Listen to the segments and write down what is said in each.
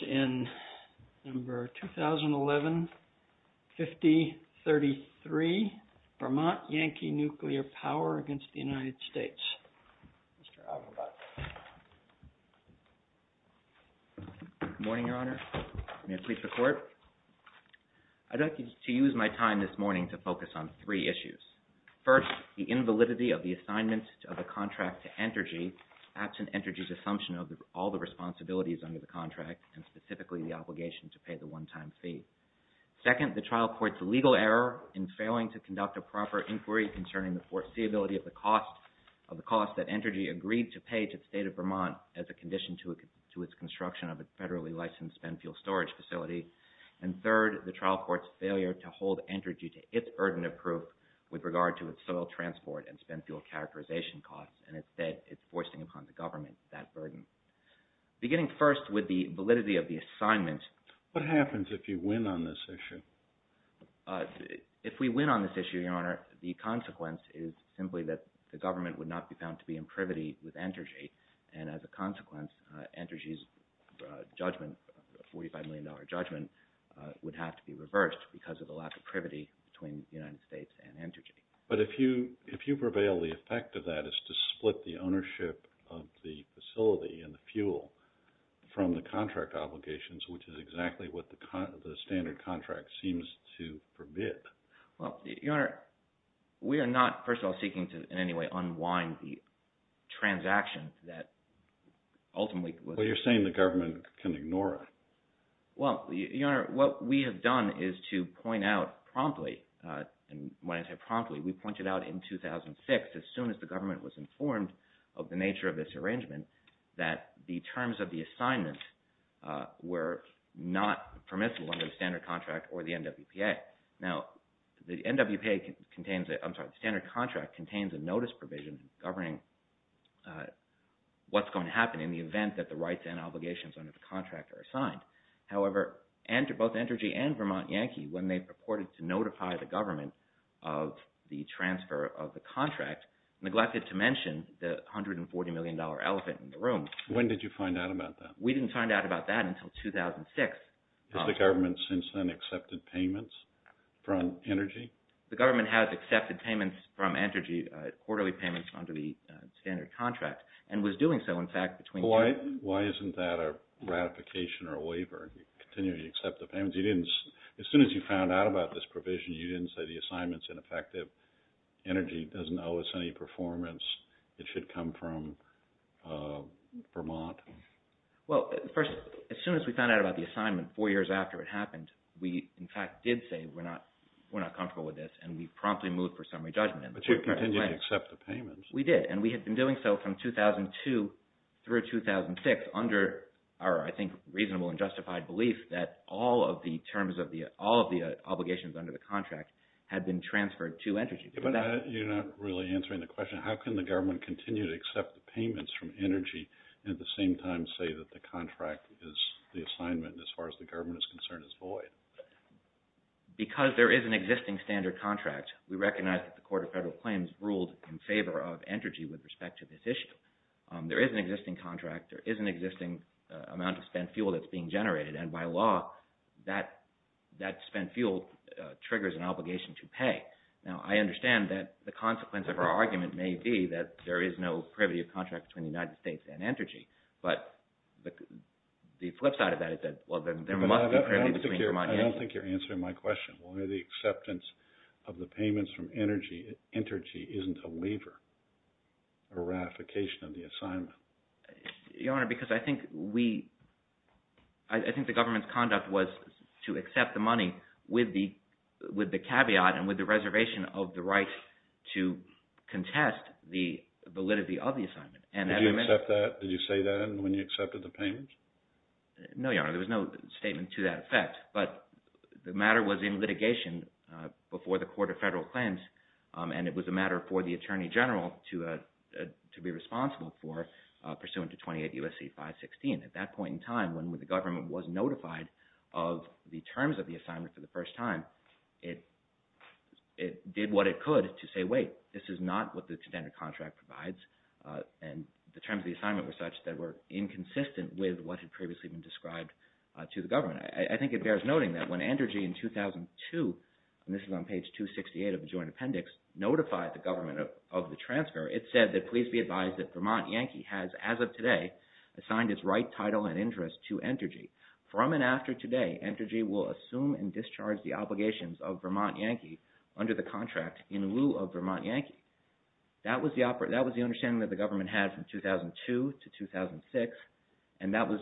Good morning, Your Honor. May it please the Court? I'd like to use my time this morning to focus on three issues. First, the invalidity of the assignment of the contract to Entergy absent Entergy's assumption of all the responsibilities under the contract, and specifically the obligation to pay the one-time fee. Second, the trial court's legal error in failing to conduct a proper inquiry concerning the foreseeability of the cost that Entergy agreed to pay to the State of Vermont as a condition to its construction of a federally licensed spent fuel storage facility. And third, the trial court's failure to hold Entergy to its urdentive proof with regard to its soil transport and spent fuel characterization costs, and instead it's foisting upon the government that burden. Beginning first with the validity of the assignment... What happens if you win on this issue? If we win on this issue, Your Honor, the consequence is simply that the government would not be found to be in privity with Entergy, and as a consequence, Entergy's judgment, $45 million judgment, would have to be reversed because of the lack of privity between the United States and Entergy. But if you prevail, the effect of that is to split the ownership of the facility and the fuel from the contract obligations, which is exactly what the standard contract seems to permit. Well, Your Honor, we are not, first of all, seeking to in any way unwind the transaction that ultimately... Well, you're saying the government can ignore it. Well, Your Honor, what we have done is to point out promptly, and when I say promptly, we pointed out in 2006, as soon as the government was informed of the nature of this arrangement, that the terms of the assignment were not permissible under the standard contract or the NWPA. Now, the NWPA contains, I'm sorry, the standard contract contains a notice provision governing what's going to happen in the event that the rights and obligations under the contract are signed. However, both Entergy and Vermont Yankee, when they purported to notify the government of the transfer of the contract, neglected to mention the $140 million elephant in the room. When did you find out about that? We didn't find out about that until 2006. Has the government since then accepted payments from Entergy? The government has accepted payments from Entergy, quarterly payments under the standard contract, and was doing so, in fact, between... Why isn't that a ratification or a waiver? You continue to accept the payments? As soon as you found out about this provision, you didn't say the assignment's ineffective. Entergy doesn't owe us any performance. It should come from Vermont. Well, first, as soon as we found out about the assignment, four years after it happened, we, in fact, did say we're not going to accept payments. We did, and we had been doing so from 2002 through 2006 under our, I think, reasonable and justified belief that all of the obligations under the contract had been transferred to Entergy. You're not really answering the question. How can the government continue to accept the payments from Energy and at the same time say that the contract is the assignment, as far as the government is concerned, is void? Because there is an existing standard contract, we recognize that the Court of Federal Claims ruled in favor of Energy with respect to this issue. There is an existing contract. There is an existing amount of spent fuel that's being generated, and by law, that spent fuel triggers an obligation to pay. Now, I understand that the consequence of our argument may be that there is no privity of contract between the United States and Energy, but the flip side of that is that, well, there must be privity between Vermont and Energy. I don't think you're answering my question. One of the acceptance of the payments from Energy, Entergy isn't a waiver, a ratification of the assignment. Your Honor, because I think we, I think the government's conduct was to accept the money with the caveat and with the reservation of the right to contest the validity of the assignment. Did you accept that? Did you say that when you accepted the payments? No, Your Honor, there was no statement to that effect, but the matter was in litigation before the Court of Federal Claims, and it was a matter for the Attorney General to be responsible for pursuant to 28 U.S.C. 516. At that point in time, when the government was notified of the terms of the assignment for the first time, it did what it could to say, wait, this is not what the contended contract provides, and the terms of the assignment were such that were inconsistent with what had previously been described to the government. I think it bears noting that when Energy in 2002, and this is on page 268 of the Joint Appendix, notified the government of the transfer, it said that please be advised that Vermont Yankee has, as of today, assigned its right title and interest to Energy. From and after today, Energy will assume and discharge the obligations of Vermont Yankee under the contract in lieu of Vermont Yankee. That was the understanding that the government had from 2002 to 2006, and that was,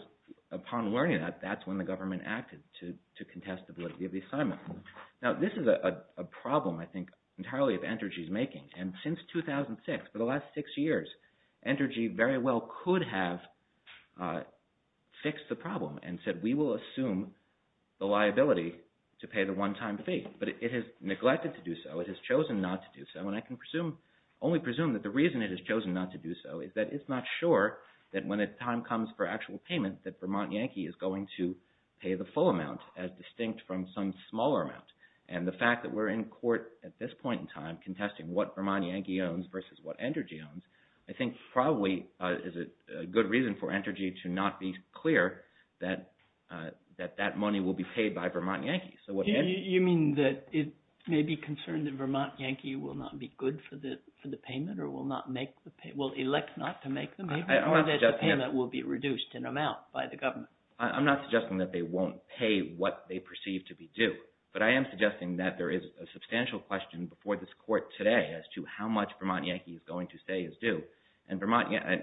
upon learning that, that's when the government acted to contest the validity of the assignment. Now, this is a problem, I think, entirely of Energy's making, and since 2006, for the last six years, Energy very well could have fixed the problem and said we will assume the liability to pay the one-time fee, but it has neglected to do so, it has chosen not to do so, and I can only presume that the reason it has chosen not to do so is that it's not sure that when the time comes for actual payment that Vermont Yankee is going to pay the full amount, as distinct from some smaller amount, and the fact that we're in court at this point in time contesting what Vermont Yankee owns versus what Energy owns, I think probably is a good reason for Energy to not be clear that that money will be paid by Vermont Yankee. You mean that it may be concerned that Vermont Yankee will not be good for the payment or will not make the payment, will elect not to make the payment, or that the payment will be reduced in amount by the government? I'm not suggesting that they won't pay what they perceive to be due, but I am suggesting that there is a substantial question before this court today as to how much Vermont Yankee is going to say is due, and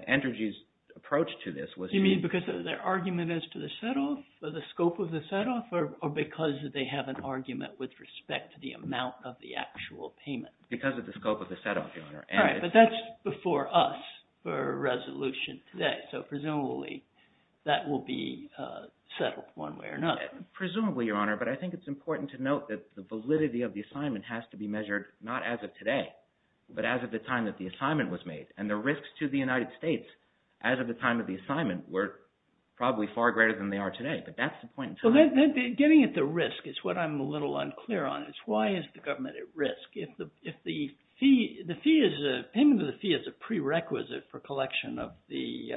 Energy's approach to this was to... You mean because of their argument as to the set-off, or the scope of the set-off, or because that they have an argument with respect to the amount of the actual payment? Because of the scope of the set-off, Your Honor. All right, but that's before us for a resolution today, so presumably that will be settled one way or another. Presumably, Your Honor, but I think it's important to note that the validity of the assignment has to be measured not as of today, but as of the time that the assignment was made, and the risks to the United States as of the time of the assignment were probably far greater than they are today, but that's the point in time. Getting at the risk is what I'm a little unclear on, is why is the government at risk if the fee... The fee is... Payment of the fee is a prerequisite for collection of the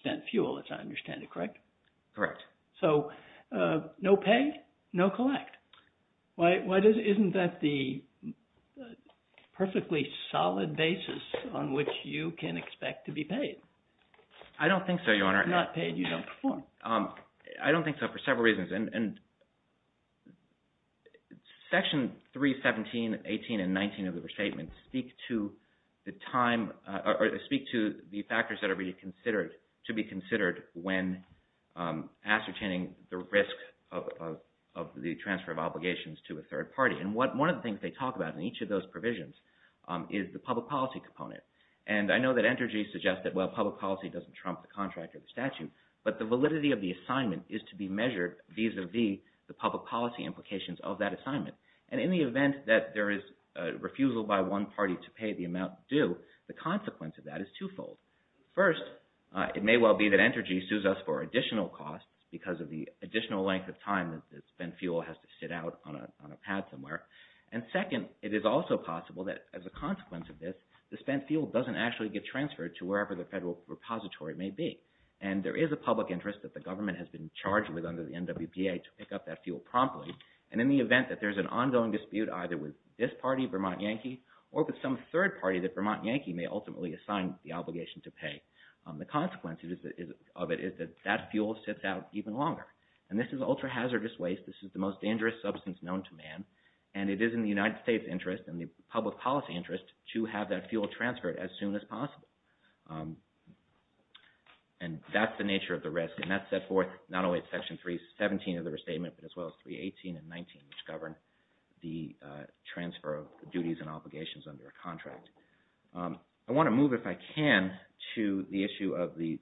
spent fuel, as I understand it, correct? Correct. So, no pay, no collect. Why... Isn't that the perfectly solid basis on which you can expect to be paid? I don't think so, Your Honor. If you're not paid, you don't perform. I don't think so for several reasons, and Section 317, 18, and 19 of the restatement speak to the time, or speak to the factors that are to be considered when ascertaining the risk of the transfer of obligations to a third party, and one of the things they talk about in each of those provisions is the public policy component, and I know that Entergy suggests that, well, public policy doesn't trump the contract or the statute, but the validity of the assignment is to be measured vis-a-vis the public policy implications of that assignment, and in the event that there is a refusal by one party to pay the amount due, the consequence of that is twofold. First, it may well be that Entergy sues us for additional costs because of the additional length of time that spent fuel has to sit out on a pad somewhere, and second, it is also possible that, as a consequence of this, the spent fuel doesn't actually get transferred to wherever the federal repository may be, and there is a public interest that the government has been charged with under the NWPA to pick up that fuel promptly, and in the event that there is an ongoing dispute either with this party, Vermont Yankee, or with some third party that Vermont Yankee may ultimately assign the obligation to pay, the consequence of it is that that fuel sits out even longer, and this is ultra-hazardous waste, this is the most dangerous substance known to man, and it is in the United States' interest and the public policy interest to have that fuel transferred as soon as possible. And that's the nature of the risk, and that's set forth not only in section 317 of the restatement, but as well as 318 and 319, which govern the transfer of duties and obligations under a contract. I want to move, if I can, to the issue of the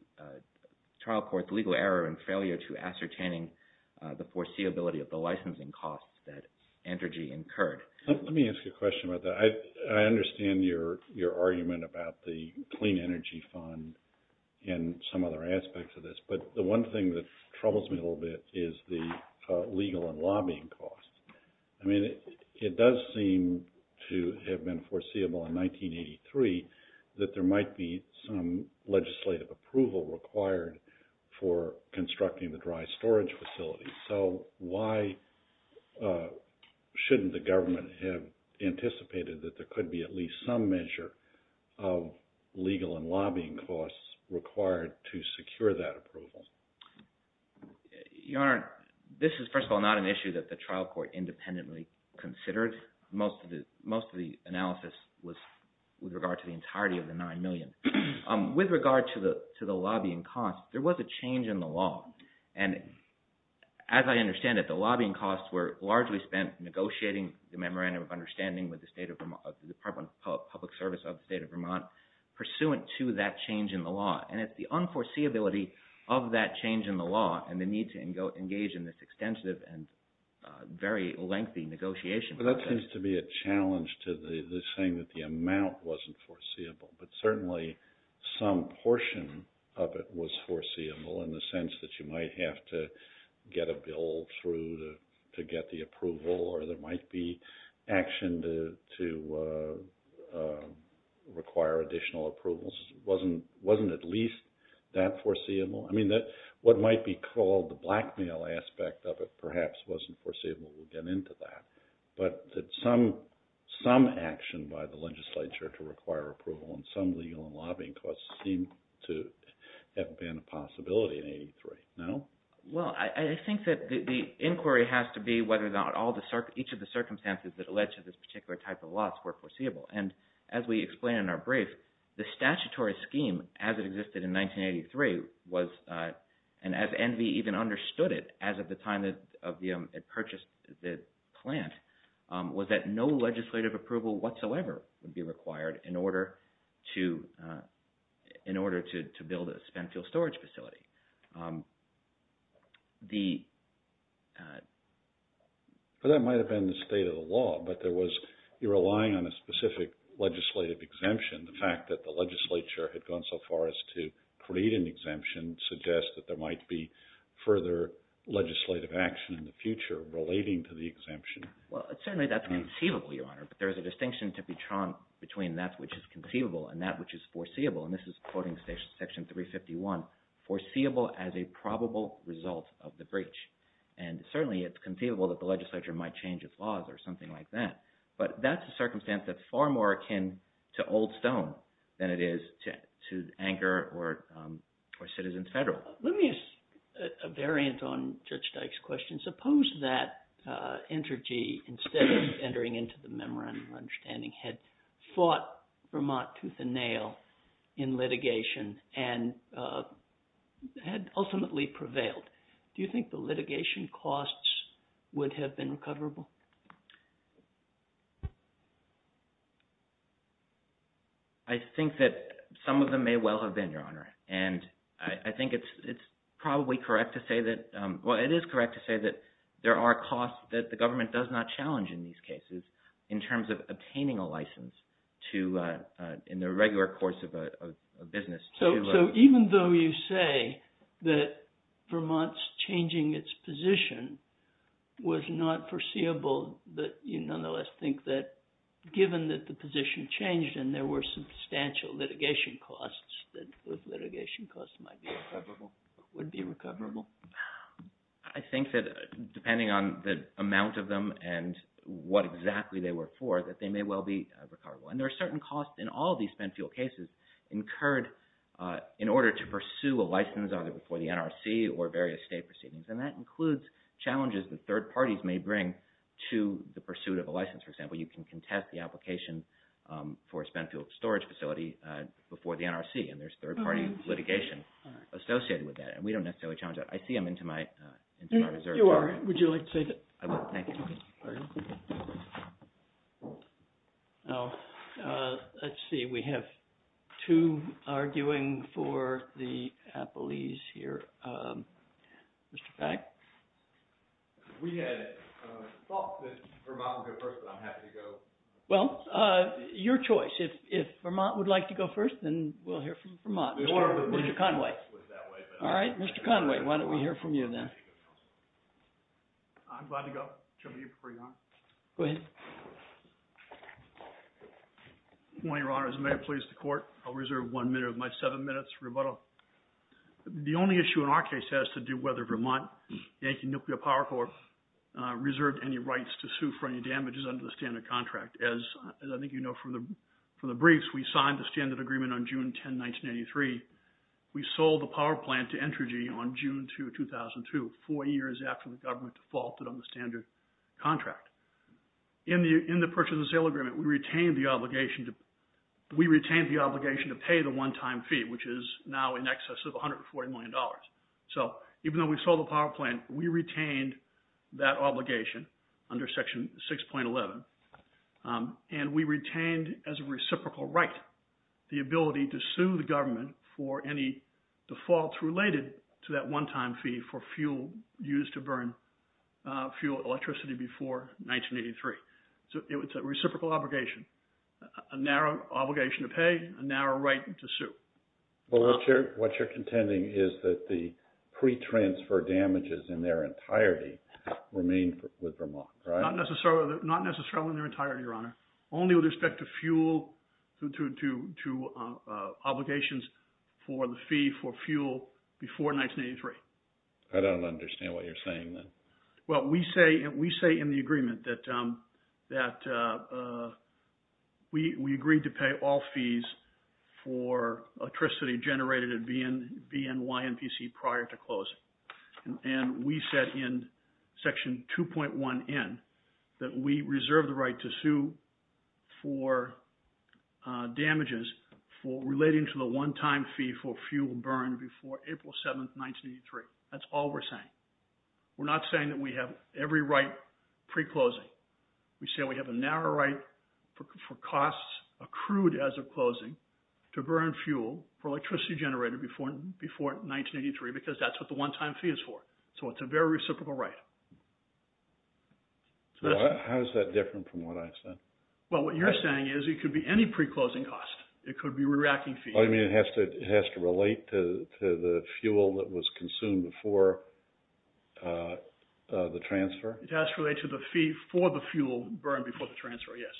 trial court's legal error and failure to ascertaining the foreseeability of the licensing costs that Entergy incurred. Let me ask you a question about that. I understand your argument about the Clean Energy Fund and some other aspects of this, but the one thing that troubles me a little bit is the legal and lobbying costs. I mean, it does seem to have been foreseeable in 1983 that there might be some legislative approval required for constructing the dry storage facility. So why shouldn't the government have anticipated that there could be at least some measure of legal and lobbying costs required to secure that approval? Your Honor, this is, first of all, not an issue that the trial court independently considered. Most of the analysis was with regard to the entirety of the $9 million. With regard to the lobbying costs, there was a change in the law. And as I understand it, the lobbying costs were largely spent negotiating the memorandum of understanding with the Department of Public Service of the State of Vermont pursuant to that change in the law. And it's the unforeseeability of that change in the law and the need to engage in this extensive and very lengthy negotiation process. But that seems to be a challenge to the saying that the amount wasn't foreseeable. But certainly some portion of it was foreseeable in the sense that you might have to get a bill through to get the approval or there might be action to require additional approvals. It wasn't at least that foreseeable. I mean, what might be called the blackmail aspect of it perhaps wasn't foreseeable. We'll get into that. But some action by the legislature to require approval and some legal and lobbying costs seem to have been a possibility in 83, no? Well, I think that the inquiry has to be whether or not each of the circumstances that led to this particular type of loss were foreseeable. And as we explain in our brief, the statutory scheme as it existed in 1983 was, and as NV even understood it as of the time of the purchase of the plant, was that no legislative approval whatsoever would be required in order to build a spent fuel storage facility. That might have been the state of the law, but there was, you're relying on a specific legislative exemption. The fact that the legislature had gone so far as to create an exemption suggests that there might be further legislative action in the future relating to the exemption. Well, certainly that's conceivable, Your Honor. But there is a distinction to be drawn between that which is conceivable and that which is foreseeable. And this is quoting Section 351, foreseeable as a probable result of the breach. And certainly it's conceivable that the legislature might change its laws or something like that. But that's a circumstance that's far more akin to Old Stone than it is to Anchor or Citizens Federal. Let me ask a variant on Judge Dyke's question. Suppose that Entergy, instead of entering into the memorandum of understanding, had fought Vermont tooth and nail in litigation and had ultimately prevailed. Do you think the litigation costs would have been recoverable? I think that some of them may well have been, Your Honor. And I think it's probably correct to say that, well, it is correct to say that there are costs that the government does not challenge in these cases in terms of obtaining a license in the regular course of a business. So even though you say that Vermont's changing its position was not foreseeable, you nonetheless think that given that the position changed and there were substantial litigation costs, that those litigation costs might be recoverable, would be recoverable? I think that depending on the amount of them and what exactly they were for, that they may well be recoverable. And there are certain costs in all of these spent fuel cases incurred in order to pursue a license either for the NRC or various state proceedings. And that includes challenges that third parties may bring to the pursuit of a license. For example, you can contest the application for a spent fuel storage facility before the NRC, and there's third party litigation associated with that. And we don't necessarily challenge that. I see I'm into my reserve. You are. Would you like to take it? I will. Thank you. Pardon? No. Let's see. We have two arguing for the appellees here. Mr. Pack? We had thought that Vermont would go first, but I'm happy to go. Well, your choice. If Vermont would like to go first, then we'll hear from Vermont. Or Mr. Conway. All right. Mr. Conway, why don't we hear from you then? I'm glad to go. Chairman, do you prefer to go first? Go ahead. Good morning, Your Honor. As the mayor pleads to court, I'll reserve one minute of my seven minutes for rebuttal. The only issue in our case has to do whether Vermont, Yankee Nuclear Power Corp., reserved any rights to sue for any damages under the standard contract. As I think you know from the briefs, we signed the standard agreement on June 10, 1983. We sold the power plant to Entergy on June 2, 2002, four years after the government defaulted on the standard contract. In the purchase and sale agreement, we retained the obligation to pay the one-time fee, which is now in excess of $140 million. So even though we sold the power plant, we retained that obligation under Section 6.11. And we retained as a reciprocal right the ability to sue the government for any defaults related to that one-time fee for fuel used to burn fuel electricity before 1983. So it's a reciprocal obligation, a narrow obligation to pay, a narrow right to sue. Well, what you're contending is that the pre-transfer damages in their entirety remain with Vermont, right? Not necessarily in their entirety, Your Honor. Only with respect to fuel, to obligations for the fee for fuel before 1983. I don't understand what you're saying then. Well, we say in the agreement that we agreed to pay all fees for electricity generated at BNYNPC prior to closing. And we said in Section 2.1N that we reserve the right to sue for damages for relating to the one-time fee for fuel burned before April 7, 1983. That's all we're saying. We're not saying that we have every right pre-closing. We say we have a narrow right for costs accrued as of closing to burn fuel for electricity generated before 1983 because that's what the one-time fee is for. So it's a very reciprocal right. How is that different from what I've said? Well, what you're saying is it could be any pre-closing cost. It could be a reacting fee. Oh, you mean it has to relate to the fuel that was consumed before the transfer? It has to relate to the fee for the fuel burned before the transfer, yes.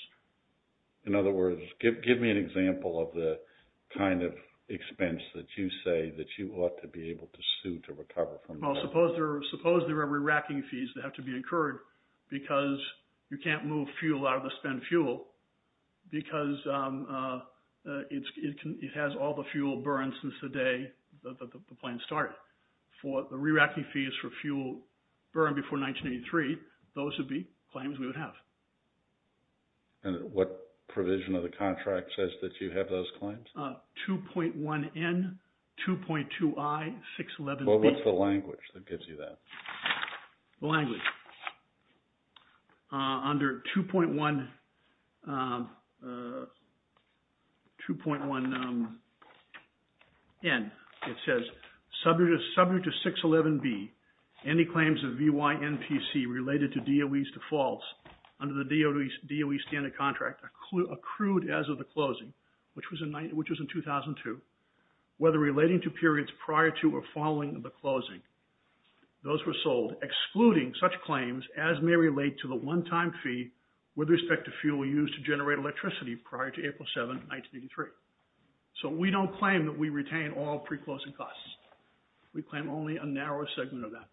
In other words, give me an example of the kind of expense that you say that you ought to be able to sue to recover from that. Well, suppose there are re-racking fees that have to be incurred because you can't move fuel out of the spent fuel because it has all the fuel burned since the day the plan started. The re-racking fee is for fuel burned before 1983. Those would be claims we would have. And what provision of the contract says that you have those claims? 2.1N, 2.2I, 611B. Well, what's the language that gives you that? The language. Under 2.1N, it says, subject to 611B, any claims of VYNPC related to DOE's defaults under the DOE standard contract accrued as of the closing, which was in 2002, whether relating to periods prior to or following the closing, those were sold, excluding such claims as may relate to the one-time fee with respect to fuel used to generate electricity prior to April 7, 1983. So we don't claim that we retain all pre-closing costs. We claim only a narrow segment of that.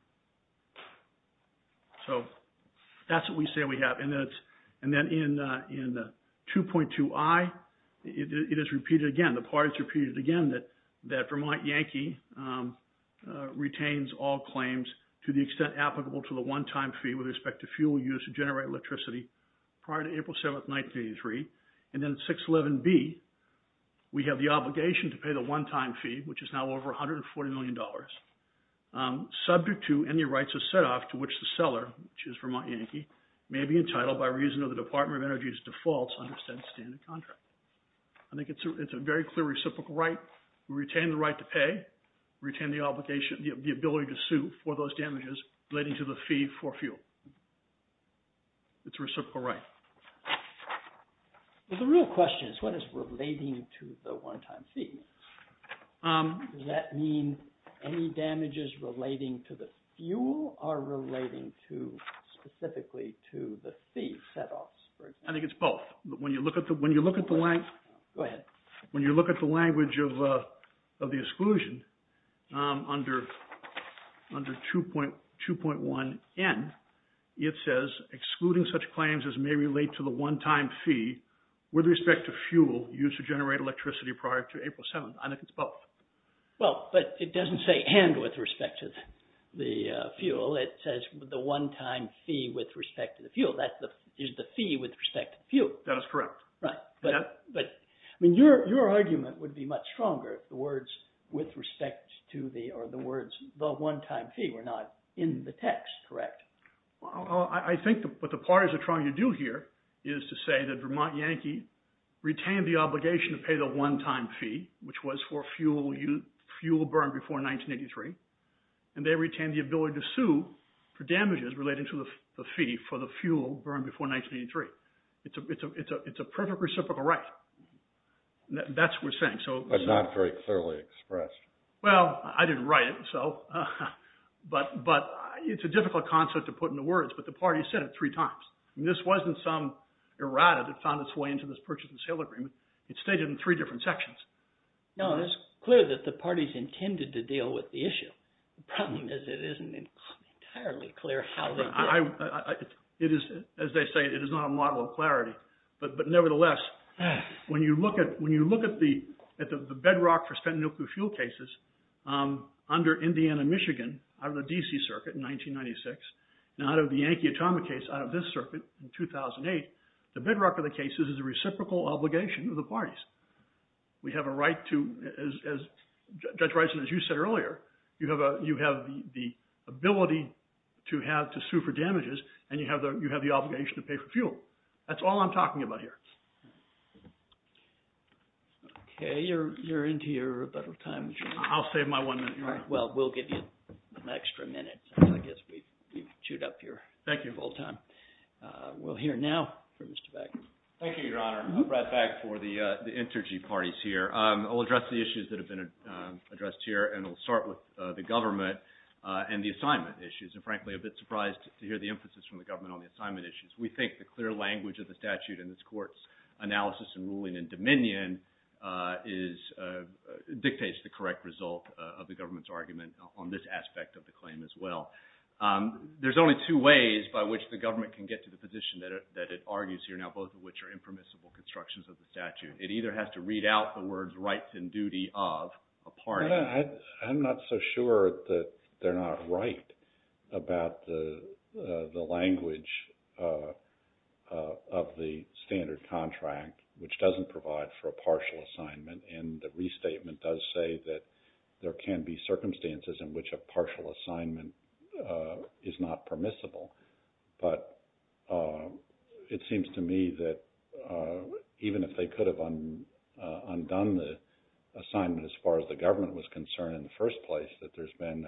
So that's what we say we have. And then in 2.2I, it is repeated again. The parties repeated again that Vermont Yankee retains all claims to the extent applicable to the one-time fee with respect to fuel used to generate electricity prior to April 7, 1983. And then in 611B, we have the obligation to pay the one-time fee, which is now over $140 million, subject to any rights of set-off to which the seller, which is Vermont Yankee, may be entitled by reason of the Department of Energy's defaults to the extent standard contract. I think it's a very clear reciprocal right. We retain the right to pay. We retain the obligation, the ability to sue for those damages relating to the fee for fuel. It's a reciprocal right. The real question is, what is relating to the one-time fee? Does that mean any damages relating to the fuel or relating specifically to the fee set-offs? I think it's both. Go ahead. When you look at the language of the exclusion under 2.1N, it says, excluding such claims as may relate to the one-time fee with respect to fuel used to generate electricity prior to April 7. I think it's both. Well, but it doesn't say and with respect to the fuel. It says the one-time fee with respect to the fuel. That is the fee with respect to the fuel. That is correct. Your argument would be much stronger if the words, with respect to the, or the words, the one-time fee were not in the text, correct? I think what the parties are trying to do here is to say that Vermont Yankee retained the obligation to pay the one-time fee, which was for fuel burned before 1983. And they retained the ability to sue for damages relating to the fee for the fuel burned before 1983. It's a perfect reciprocal right. That's what we're saying, so... But not very clearly expressed. Well, I didn't write it, so... But it's a difficult concept to put into words, but the parties said it three times. This wasn't some errata that found its way into this purchase and sale agreement. It's stated in three different sections. No, it's clear that the parties intended to deal with the issue. The problem is, it isn't entirely clear how they did it. As they say, it is not a model of clarity. But nevertheless, when you look at the bedrock for spent nuclear fuel cases under Indiana-Michigan out of the D.C. Circuit in 1996, and out of the Yankee Atomic case out of this circuit in 2008, the bedrock of the cases is a reciprocal obligation of the parties. We have a right to, as Judge Rison, as you said earlier, you have the ability to sue for damages, and you have the obligation to pay for fuel. That's all I'm talking about here. Okay, you're into your rebuttal time. I'll save my one minute, Your Honor. Well, we'll give you an extra minute. I guess we've chewed up your full time. Thank you. We'll hear now from Mr. Bagley. Thank you, Your Honor. Brad Bagley for the inter-G parties here. I'll address the issues that have been addressed here, and I'll start with the government and the assignment issues. I'm frankly a bit surprised to hear the emphasis from the government on the assignment issues. We think the clear language of the statute in this Court's analysis of ruling and dominion dictates the correct result of the government's argument on this aspect of the claim as well. There's only two ways by which the government can get to the position that it argues here now, both of which are impermissible constructions of the statute. It either has to read out the words rights and duty of a party. I'm not so sure that they're not right about the language of the standard contract which doesn't provide for a partial assignment and the restatement does say that there can be circumstances in which a partial assignment is not permissible. But it seems to me that even if they could have undone the assignment as far as the government was concerned in the first place, that there's been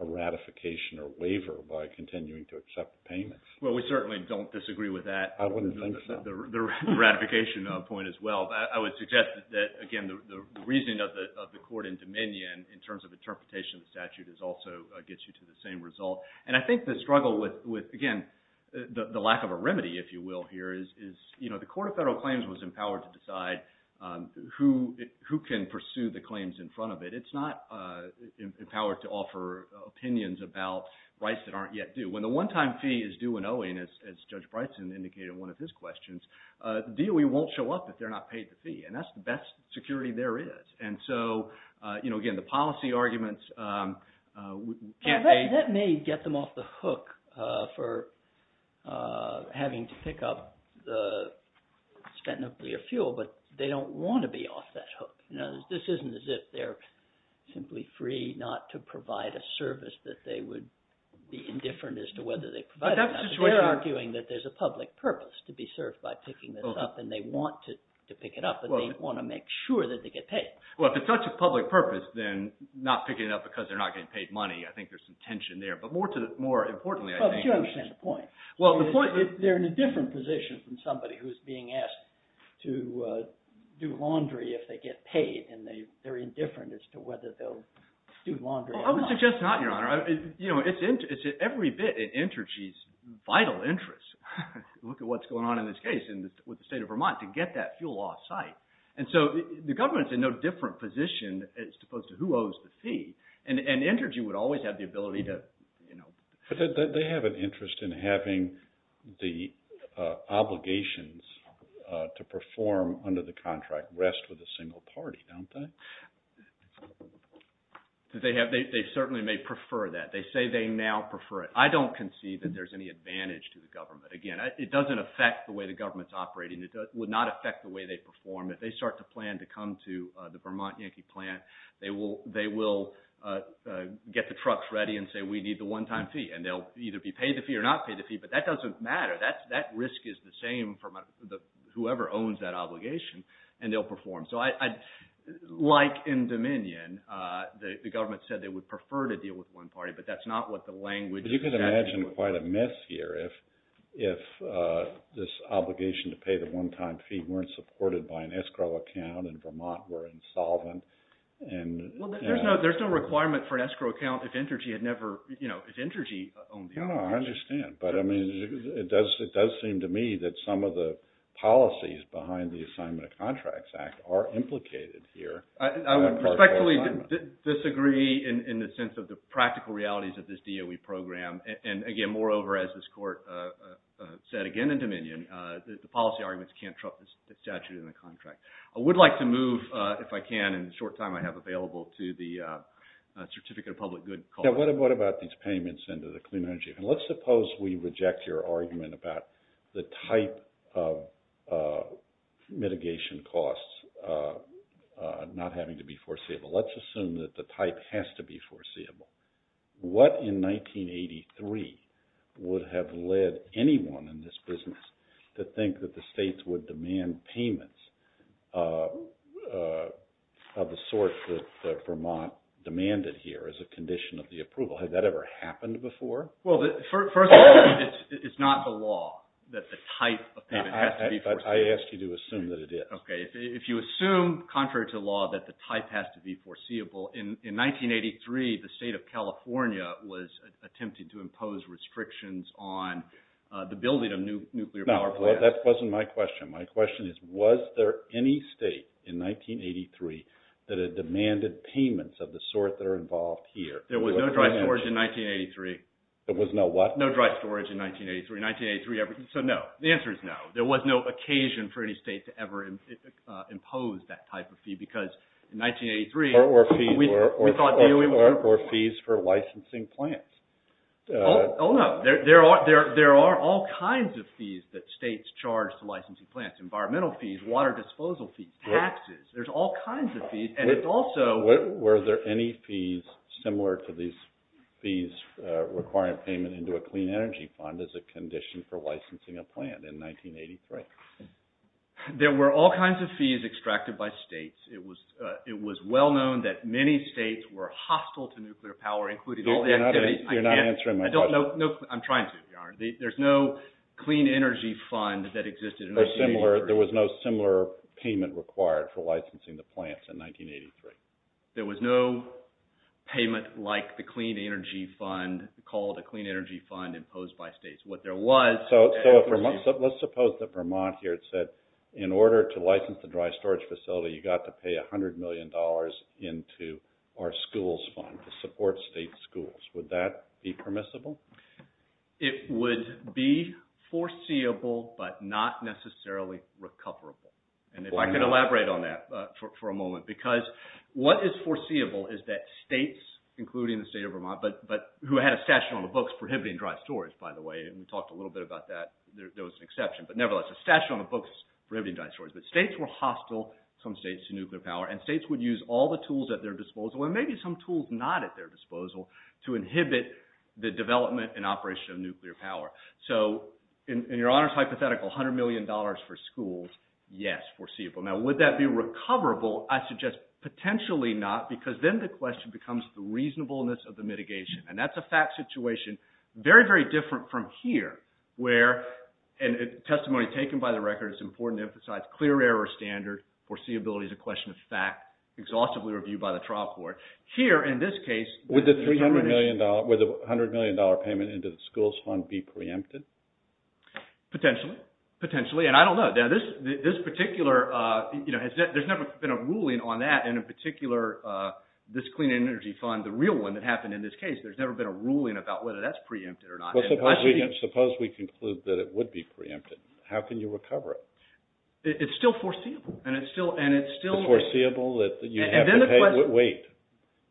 a ratification or waiver by continuing to accept payments. Well, we certainly don't disagree with that. I wouldn't think so. The ratification point as well. I would suggest that, again, the reasoning of the court in Dominion in terms of interpretation of the statute also gets you to the same result. And I think the struggle with, again, the lack of a remedy, if you will, here, is the Court of Federal Claims was empowered to decide who can pursue the claims in front of it. It's not empowered to offer opinions about rights that aren't yet due. When the one-time fee is due and owing, the DOE won't show up if they're not paid the fee. And that's the best security there is. And so, again, the policy arguments... That may get them off the hook for having to pick up the spent nuclear fuel, but they don't want to be off that hook. This isn't as if they're simply free not to provide a service that they would be indifferent as to whether they provide it or not. They're arguing that there's a public purpose to be served by picking this up and they want to pick it up and they want to make sure that they get paid. Well, if it's such a public purpose, then not picking it up because they're not getting paid money, I think there's some tension there. But more importantly... But you understand the point. They're in a different position from somebody who's being asked to do laundry if they get paid and they're indifferent as to whether they'll do laundry or not. I would suggest not, Your Honor. It's every bit in Intergy's vital interest to look at what's going on in this case with the state of Vermont to get that fuel off site. And so the government's in no different position as opposed to who owes the fee. And Intergy would always have the ability to... But they have an interest in having the obligations to perform under the contract rest with a single party, don't they? They certainly may prefer that. They say they now prefer it. I don't see that there's any advantage to the government. Again, it doesn't affect the way the government is operating. It would not affect the way they perform. If they start to plan to come to the Vermont Yankee plant, they will get the trucks ready and say, we need the one-time fee. And they'll either be paid the fee or not paid the fee, but that doesn't matter. That risk is the same for whoever owns that obligation, and they'll perform. So I... Like in Dominion, the government said they would prefer to deal with one party, but that's not what the language... But you can imagine quite a mess here if this obligation to pay the one-time fee weren't supported by an escrow account, and Vermont were insolvent. There's no requirement for an escrow account if Intergy had never... No, I understand. But it does seem to me that some of the policies behind the Assignment of Contracts Act are implicated here. I would respectfully disagree in the sense of the practical realities of this DOE program. And again, moreover, as this court said again in Dominion, the policy arguments can't trump the statute in the contract. I would like to move, if I can, in the short time I have available, to the Certificate of Public Good call. Now, what about these payments into the Clean Energy Act? And let's suppose we reject your argument about the type of mitigation costs not having to be foreseeable. What in 1983 would have led anyone in this business to think that the states would demand payments of the sort that Vermont demanded here as a condition of the approval? Has that ever happened before? Well, first of all, it's not the law that the type of payment has to be foreseeable. I ask you to assume that it is. If you assume, contrary to law, that the type of payment has to be foreseeable, in 1983, the state of California was attempting to impose restrictions on the building of nuclear power plants. That wasn't my question. My question is, was there any state in 1983 that had demanded payments of the sort that are involved here? There was no dry storage in 1983. There was no what? No dry storage in 1983. So no. The answer is no. There was no occasion for any state to ever impose that type of fee because in 1983 Or fees for licensing plants. Oh no. There are all kinds of fees that states charge to licensing plants. Environmental fees, water disposal fees, taxes. There's all kinds of fees. Were there any fees similar to these fees requiring payment into a clean energy fund as a condition for licensing a plant in 1983? There were all kinds of fees extracted by states. It was well known that many states were hostile to nuclear power, including all the activities. You're not answering my question. I'm trying to. There's no clean energy fund that existed in 1983. There was no similar payment required for licensing the plants in 1983. There was no payment like the clean energy fund, called a clean energy fund imposed by states. What there was Let's suppose that Vermont here said, in order to license the dry storage facility, you got to pay $100 million into our schools fund to support state schools. Would that be permissible? It would be foreseeable but not necessarily recoverable. If I could elaborate on that for a moment because what is foreseeable is that states, including the state of Vermont, who had a statute on the books prohibiting dry storage, by the way, and we talked a little bit about that, there was an exception, but nevertheless the statute on the books prohibiting dry storage, but states were hostile, some states, to nuclear power, and states would use all the tools at their disposal and maybe some tools not at their disposal to inhibit the development and operation of nuclear power. So, in your hypothetical $100 million for schools, yes, foreseeable. Now, would that be recoverable? I suggest potentially not because then the question becomes the reasonableness of the mitigation and that's a fact situation very, very different from here where, and testimony taken by the record, it's important to emphasize, clear error standard, foreseeability is a question of fact, exhaustively reviewed by the trial court. Here, in this case, Would the $100 million payment into the schools fund be preempted? Potentially, and I don't know. This particular, there's never been a ruling on that in a particular, this clean energy fund, the real one that happened in this case. There's never been a ruling about whether that's preempted or not. Suppose we conclude that it would be preempted. How can you recover it? It's still foreseeable and it's still... Wait.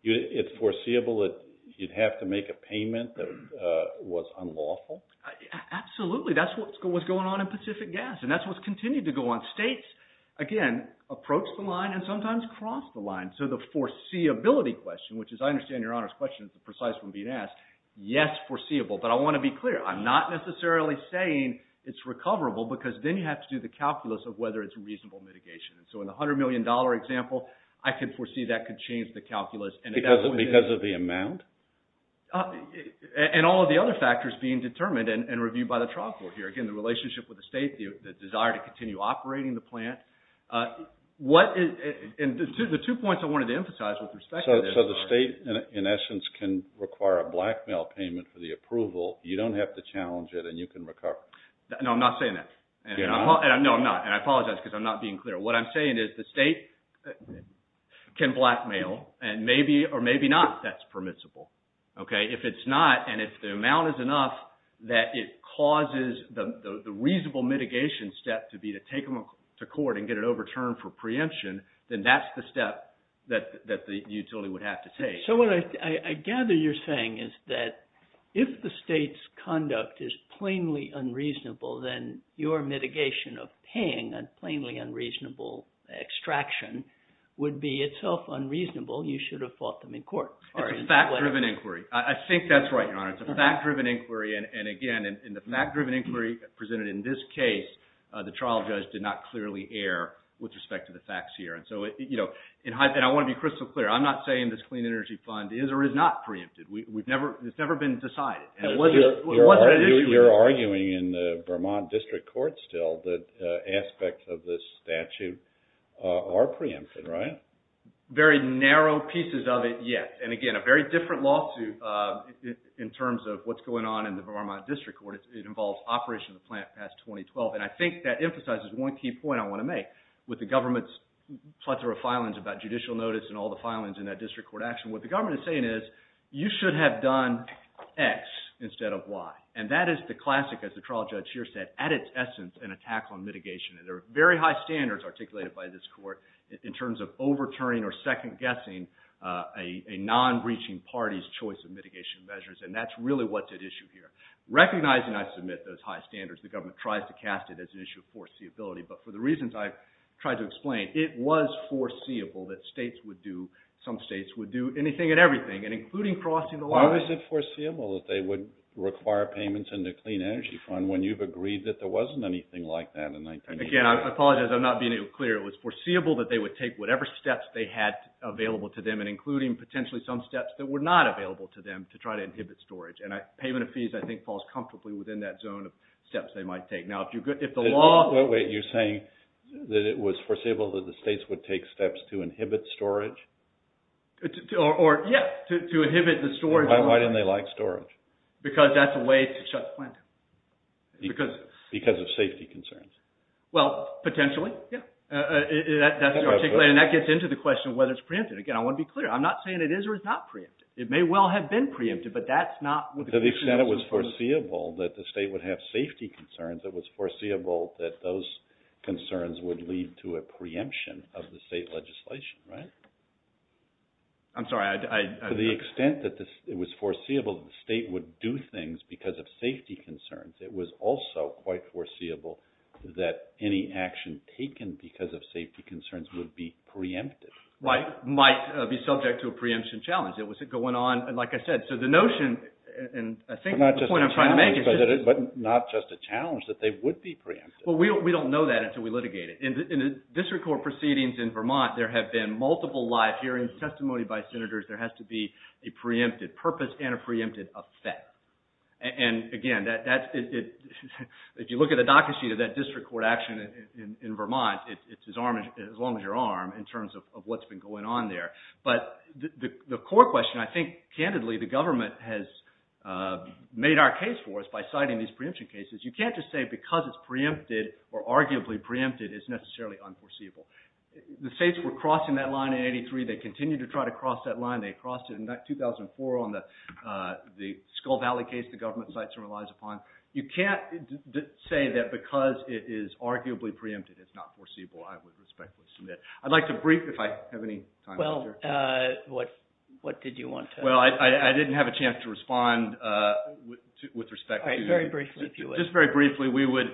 It's foreseeable that you'd have to make a payment that was unlawful? Absolutely. That's what's going on in Pacific Gas and that's what's continued to go on. States, again, approach the line and sometimes cross the line. So the foreseeability question, which is, I understand Your Honor's question is the precise one being asked. Yes, foreseeable, but I want to be clear. I'm not necessarily saying it's recoverable because then you have to do the calculus of whether it's reasonable mitigation. So in the $100 million example, I could foresee that could change the calculus. Because of the amount? And all of the other factors being determined and reviewed by the trial court here. Again, the relationship with the state, the desire to continue operating the plant. The two points I wanted to emphasize with respect to this... So the state, in essence, can require a blackmail payment for the approval. You don't have to challenge it and you can recover. No, I'm not saying that. No, I'm not. And I apologize because I'm not being clear. What I'm saying is the state can blackmail and maybe or maybe not that's permissible. If it's not and if the amount is enough that it causes the reasonable mitigation step to be to take them to court and get it overturned for preemption, then that's the step that the utility would have to take. So what I gather you're saying is that if the state's conduct is plainly unreasonable, then your mitigation of paying a plainly unreasonable extraction would be itself unreasonable. You should have fought them in court. It's a fact-driven inquiry. I think that's right, Your Honor. It's a fact-driven inquiry and again, in the fact-driven inquiry presented in this case, the trial judge did not clearly err with respect to the facts here. And I want to be crystal clear. I'm not saying this Clean Energy Fund is or is not preempted. It's never been decided. We're arguing in the Vermont District Court still that aspects of this statute are preempted, right? Very narrow pieces of it, yes. And again, a very different lawsuit in terms of what's going on in the Vermont District Court. It involves Operation the Plant 2012. And I think that emphasizes one key point I want to make. With the government's plethora of filings about judicial notice and all the filings in that district court action, what the government is saying is, you should have done X instead of Y. And that is the classic, as the trial judge here said, at its essence, an attack on mitigation. And there are very high standards articulated by this court in terms of overturning or second-guessing a non-breaching party's choice of mitigation measures. And that's really what's at issue here. Recognizing I submit those high standards, the government tries to cast it as an issue of foreseeability, but for the reasons I've tried to explain, it was foreseeable that states would do, some states would do, anything and everything, and including crossing the line. Why was it foreseeable that they would require payments in the Clean Energy Fund when you've agreed that there wasn't anything like that in 1988? Again, I apologize, I'm not being clear. It was foreseeable that they would take whatever steps they had available to them and including potentially some steps that were not to inhibit storage. And payment of fees, I think, falls comfortably within that zone of steps they might take. Now, if the law... Wait, you're saying that it was foreseeable that the states would take steps to inhibit storage? Or, yeah, to inhibit the storage. Why didn't they like storage? Because that's a way to shut the plant down. Because of safety concerns? Well, potentially, yeah. That's articulated and that gets into the question of whether it's preempted. Again, I want to be clear. I'm not saying it is or is not preempted. It may well have been preempted, but that's not... To the extent it was foreseeable that the state would have safety concerns, it was foreseeable that those concerns would lead to a preemption of the state legislation, right? I'm sorry, I... To the extent that it was foreseeable that the state would do things because of safety concerns, it was also quite foreseeable that any action taken because of safety concerns would be preempted. Might be subject to a preemption challenge. It was going on, like I said, so the notion, and I think the point I'm trying to make is... But not just a challenge, that they would be preempted. Well, we don't know that until we litigate it. In the district court proceedings in Vermont, there have been multiple live hearings testimony by senators. There has to be a preempted purpose and a preempted effect. And, again, that's... If you look at the docket sheet of that district court action in Vermont, it's as long as your arm in terms of what's been going on there. But the core question, I think, candidly, the government has made our case for us by citing these preemption cases. You can't just say because it's preempted or arguably preempted, it's necessarily unforeseeable. The states were crossing that line in 83. They continue to try to cross that line. They crossed it in 2004 on the Skull Valley case the government cites and relies upon. You can't say that because it is arguably preempted and it's not foreseeable. I would respectfully submit. I'd like to brief if I have any time left here. Well, I didn't have a chance to respond with respect to... Just very briefly, we would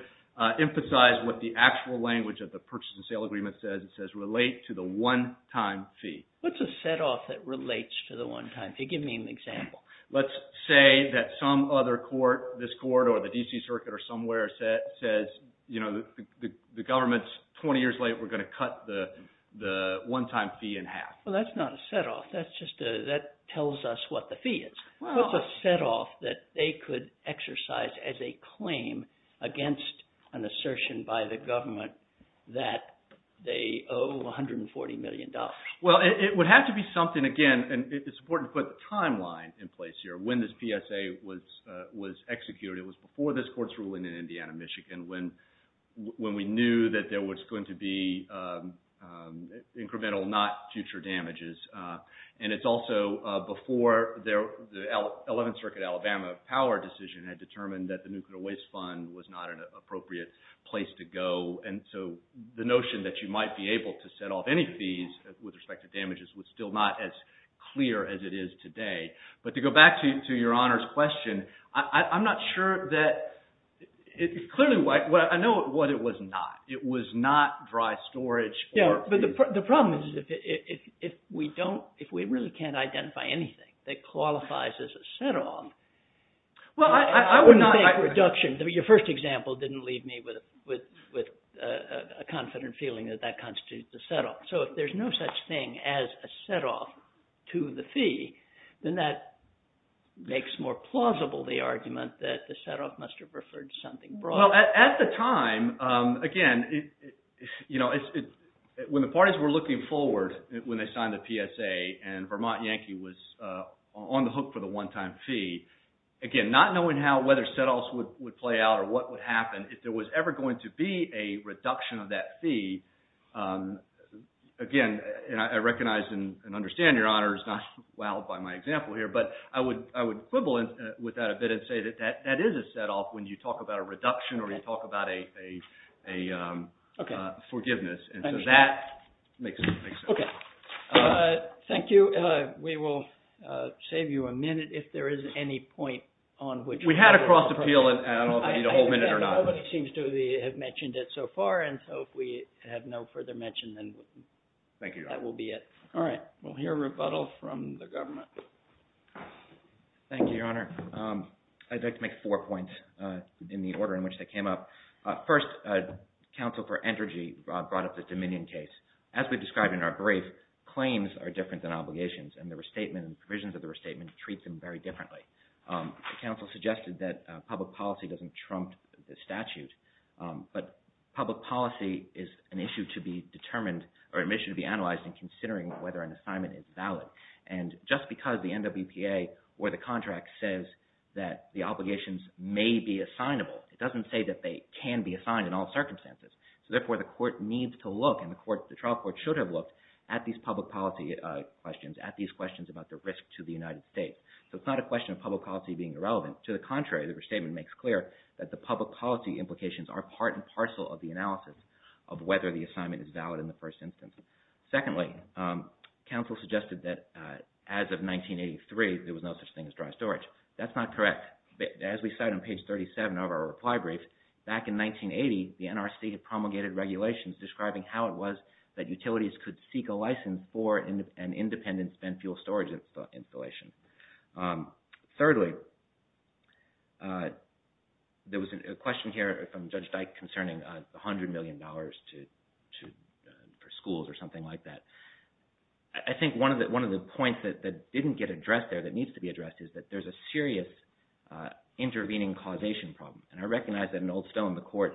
emphasize what the actual language of the purchase and sale agreement says. It says, relate to the one time fee. What's a set-off that relates to the one time fee? Give me an example. Let's say that some other court, this court or the D.C. Circuit or somewhere says the government's 20 years late, we're going to cut the one time fee in half. Well, that's not a set-off. That's just tells us what the fee is. What's a set-off that they could exercise as a claim against an assertion by the government that they owe $140 million? Well, it would have to be something again, and it's important to put the timeline in place here. When this PSA was executed, it was before this court's ruling in Indiana, Michigan when we knew that there was going to be incremental, not future damages. And it's also before the 11th Circuit Alabama power decision had determined that the Nuclear Waste Fund was not an appropriate place to go. And so, the notion that you might be able to set off any fees with respect to damages was still not as clear as it is today. But to go back to your Honor's question, I'm not sure that clearly, I know what it was not. It was not dry storage. The problem is if we don't, if we really can't identify anything that qualifies as a set-off, Well, I would not Your first example didn't leave me with a confident feeling that that constitutes a set-off. So, if there's no such thing as a set-off to the fee, then that makes more plausible the argument that the set-off must have referred to something broader. Well, at the time again, when the parties were looking forward when they signed the PSA and Vermont Yankee was on the hook for the one-time fee, again, not knowing how, whether set-offs would play out or what would happen, if there was ever going to be a reduction of that fee, again, and I recognize and understand, Your Honor, is not wowed by my example here, but I would quibble with that a bit and say that that is a set-off when you talk about a reduction or you talk about a forgiveness, and so that makes sense. Thank you. We will save you a minute if there is any point on which we We had a cross-appeal and I don't know if we need a whole minute or not. Nobody seems to have mentioned it so far and so if we have no further mention, then that will be it. All right. We will hear rebuttal from the government. Thank you, Your Honor. I would like to make four points in the order in which they came up. First, counsel for Entergy brought up the Dominion case. As we described in our brief, claims are different than obligations and the restatement and provisions of the restatement treat them very differently. The counsel suggested that public policy doesn't trump the statute, but public policy is an issue to be analyzed in considering whether an assignment is valid and just because the NWPA or the contract says that the obligations may be assignable, it doesn't say that they can be assigned in all circumstances. Therefore, the court needs to look and the trial court should have looked at these public policy questions, at these questions about the risk to the United States. It's not a question of public policy being irrelevant. To the contrary, the restatement makes clear that the public policy implications are part and parcel of the analysis of whether the Secondly, counsel suggested that as of 1983 there was no such thing as dry storage. That's not correct. As we cite on page 37 of our reply brief, back in 1980, the NRC promulgated regulations describing how it was that utilities could seek a license for an independent spent fuel storage installation. Thirdly, there was a question here from Judge Dyke concerning $100 million for schools or something like that. I think one of the points that didn't get addressed there that needs to be addressed is that there's a serious intervening causation problem. And I recognize that in Old Stone the court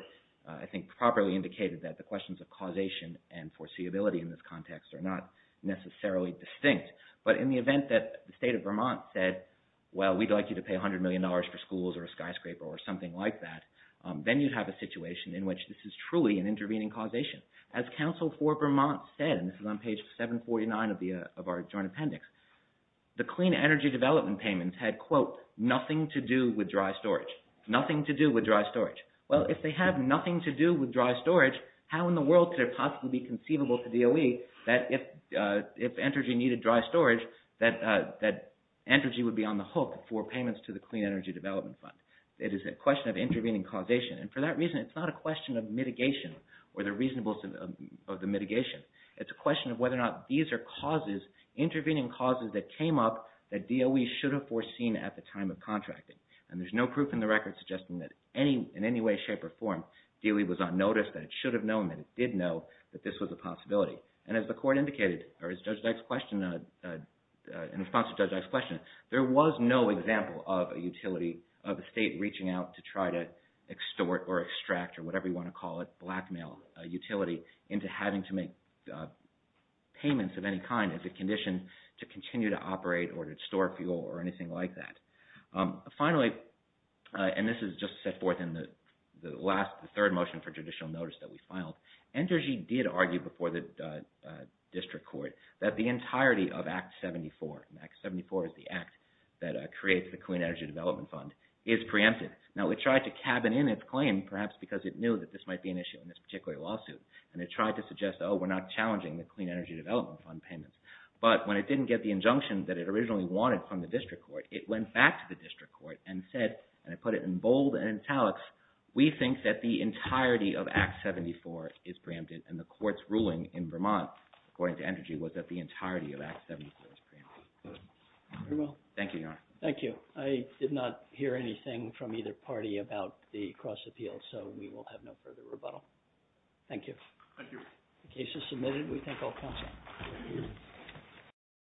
properly indicated that the questions of causation and foreseeability in this context are not necessarily distinct. But in the event that the state of Vermont said, well we'd like you to pay $100 million for schools or a skyscraper or something like that, then you'd have a situation in which this is truly an intervening causation. As counsel for Vermont said, and this is on page 749 of our joint appendix, the clean energy development payments had, quote, nothing to do with dry storage. Nothing to do with dry storage. Well, if they had nothing to do with dry storage, how in the world could it possibly be conceivable to DOE that if energy needed dry storage, that energy would be on the hook for payments to the Clean Energy Development Fund. It is a question of intervening causation. And for that reason it's not a question of mitigation or the reasonableness of the mitigation. It's a question of whether or not these are causes, intervening causes, that came up that DOE should have foreseen at the time of contracting. And there's no proof in the record suggesting that in any way, shape, or form, DOE was unnoticed, that it should have known, that it did know that this was a possibility. And as the court indicated, or as Judge Dyke's question in response to Judge Dyke's question, there was no example of utility of the state reaching out to try to extort or extract or whatever you want to call it, blackmail utility into having to make payments of any kind as a condition to continue to operate or to store fuel or anything like that. Finally, and this is just set forth in the third motion for judicial notice that we filed, Energy did argue before the District Court that the entirety of Act 74, and Act 74 is the Clean Energy Development Fund, is preempted. Now, it tried to cabin in its claim perhaps because it knew that this might be an issue in this particular lawsuit. And it tried to suggest oh, we're not challenging the Clean Energy Development Fund payments. But when it didn't get the injunction that it originally wanted from the District Court, it went back to the District Court and said, and I put it in bold and in italics, we think that the entirety of Act 74 is preempted and the court's ruling in Vermont according to Energy was that the entirety of Act 74 is preempted. Very well. Thank you, Your Honor. Thank you. I did not hear anything from either party about the cross appeal, so we will have no further rebuttal. Thank you. The case is submitted. We thank all counsel.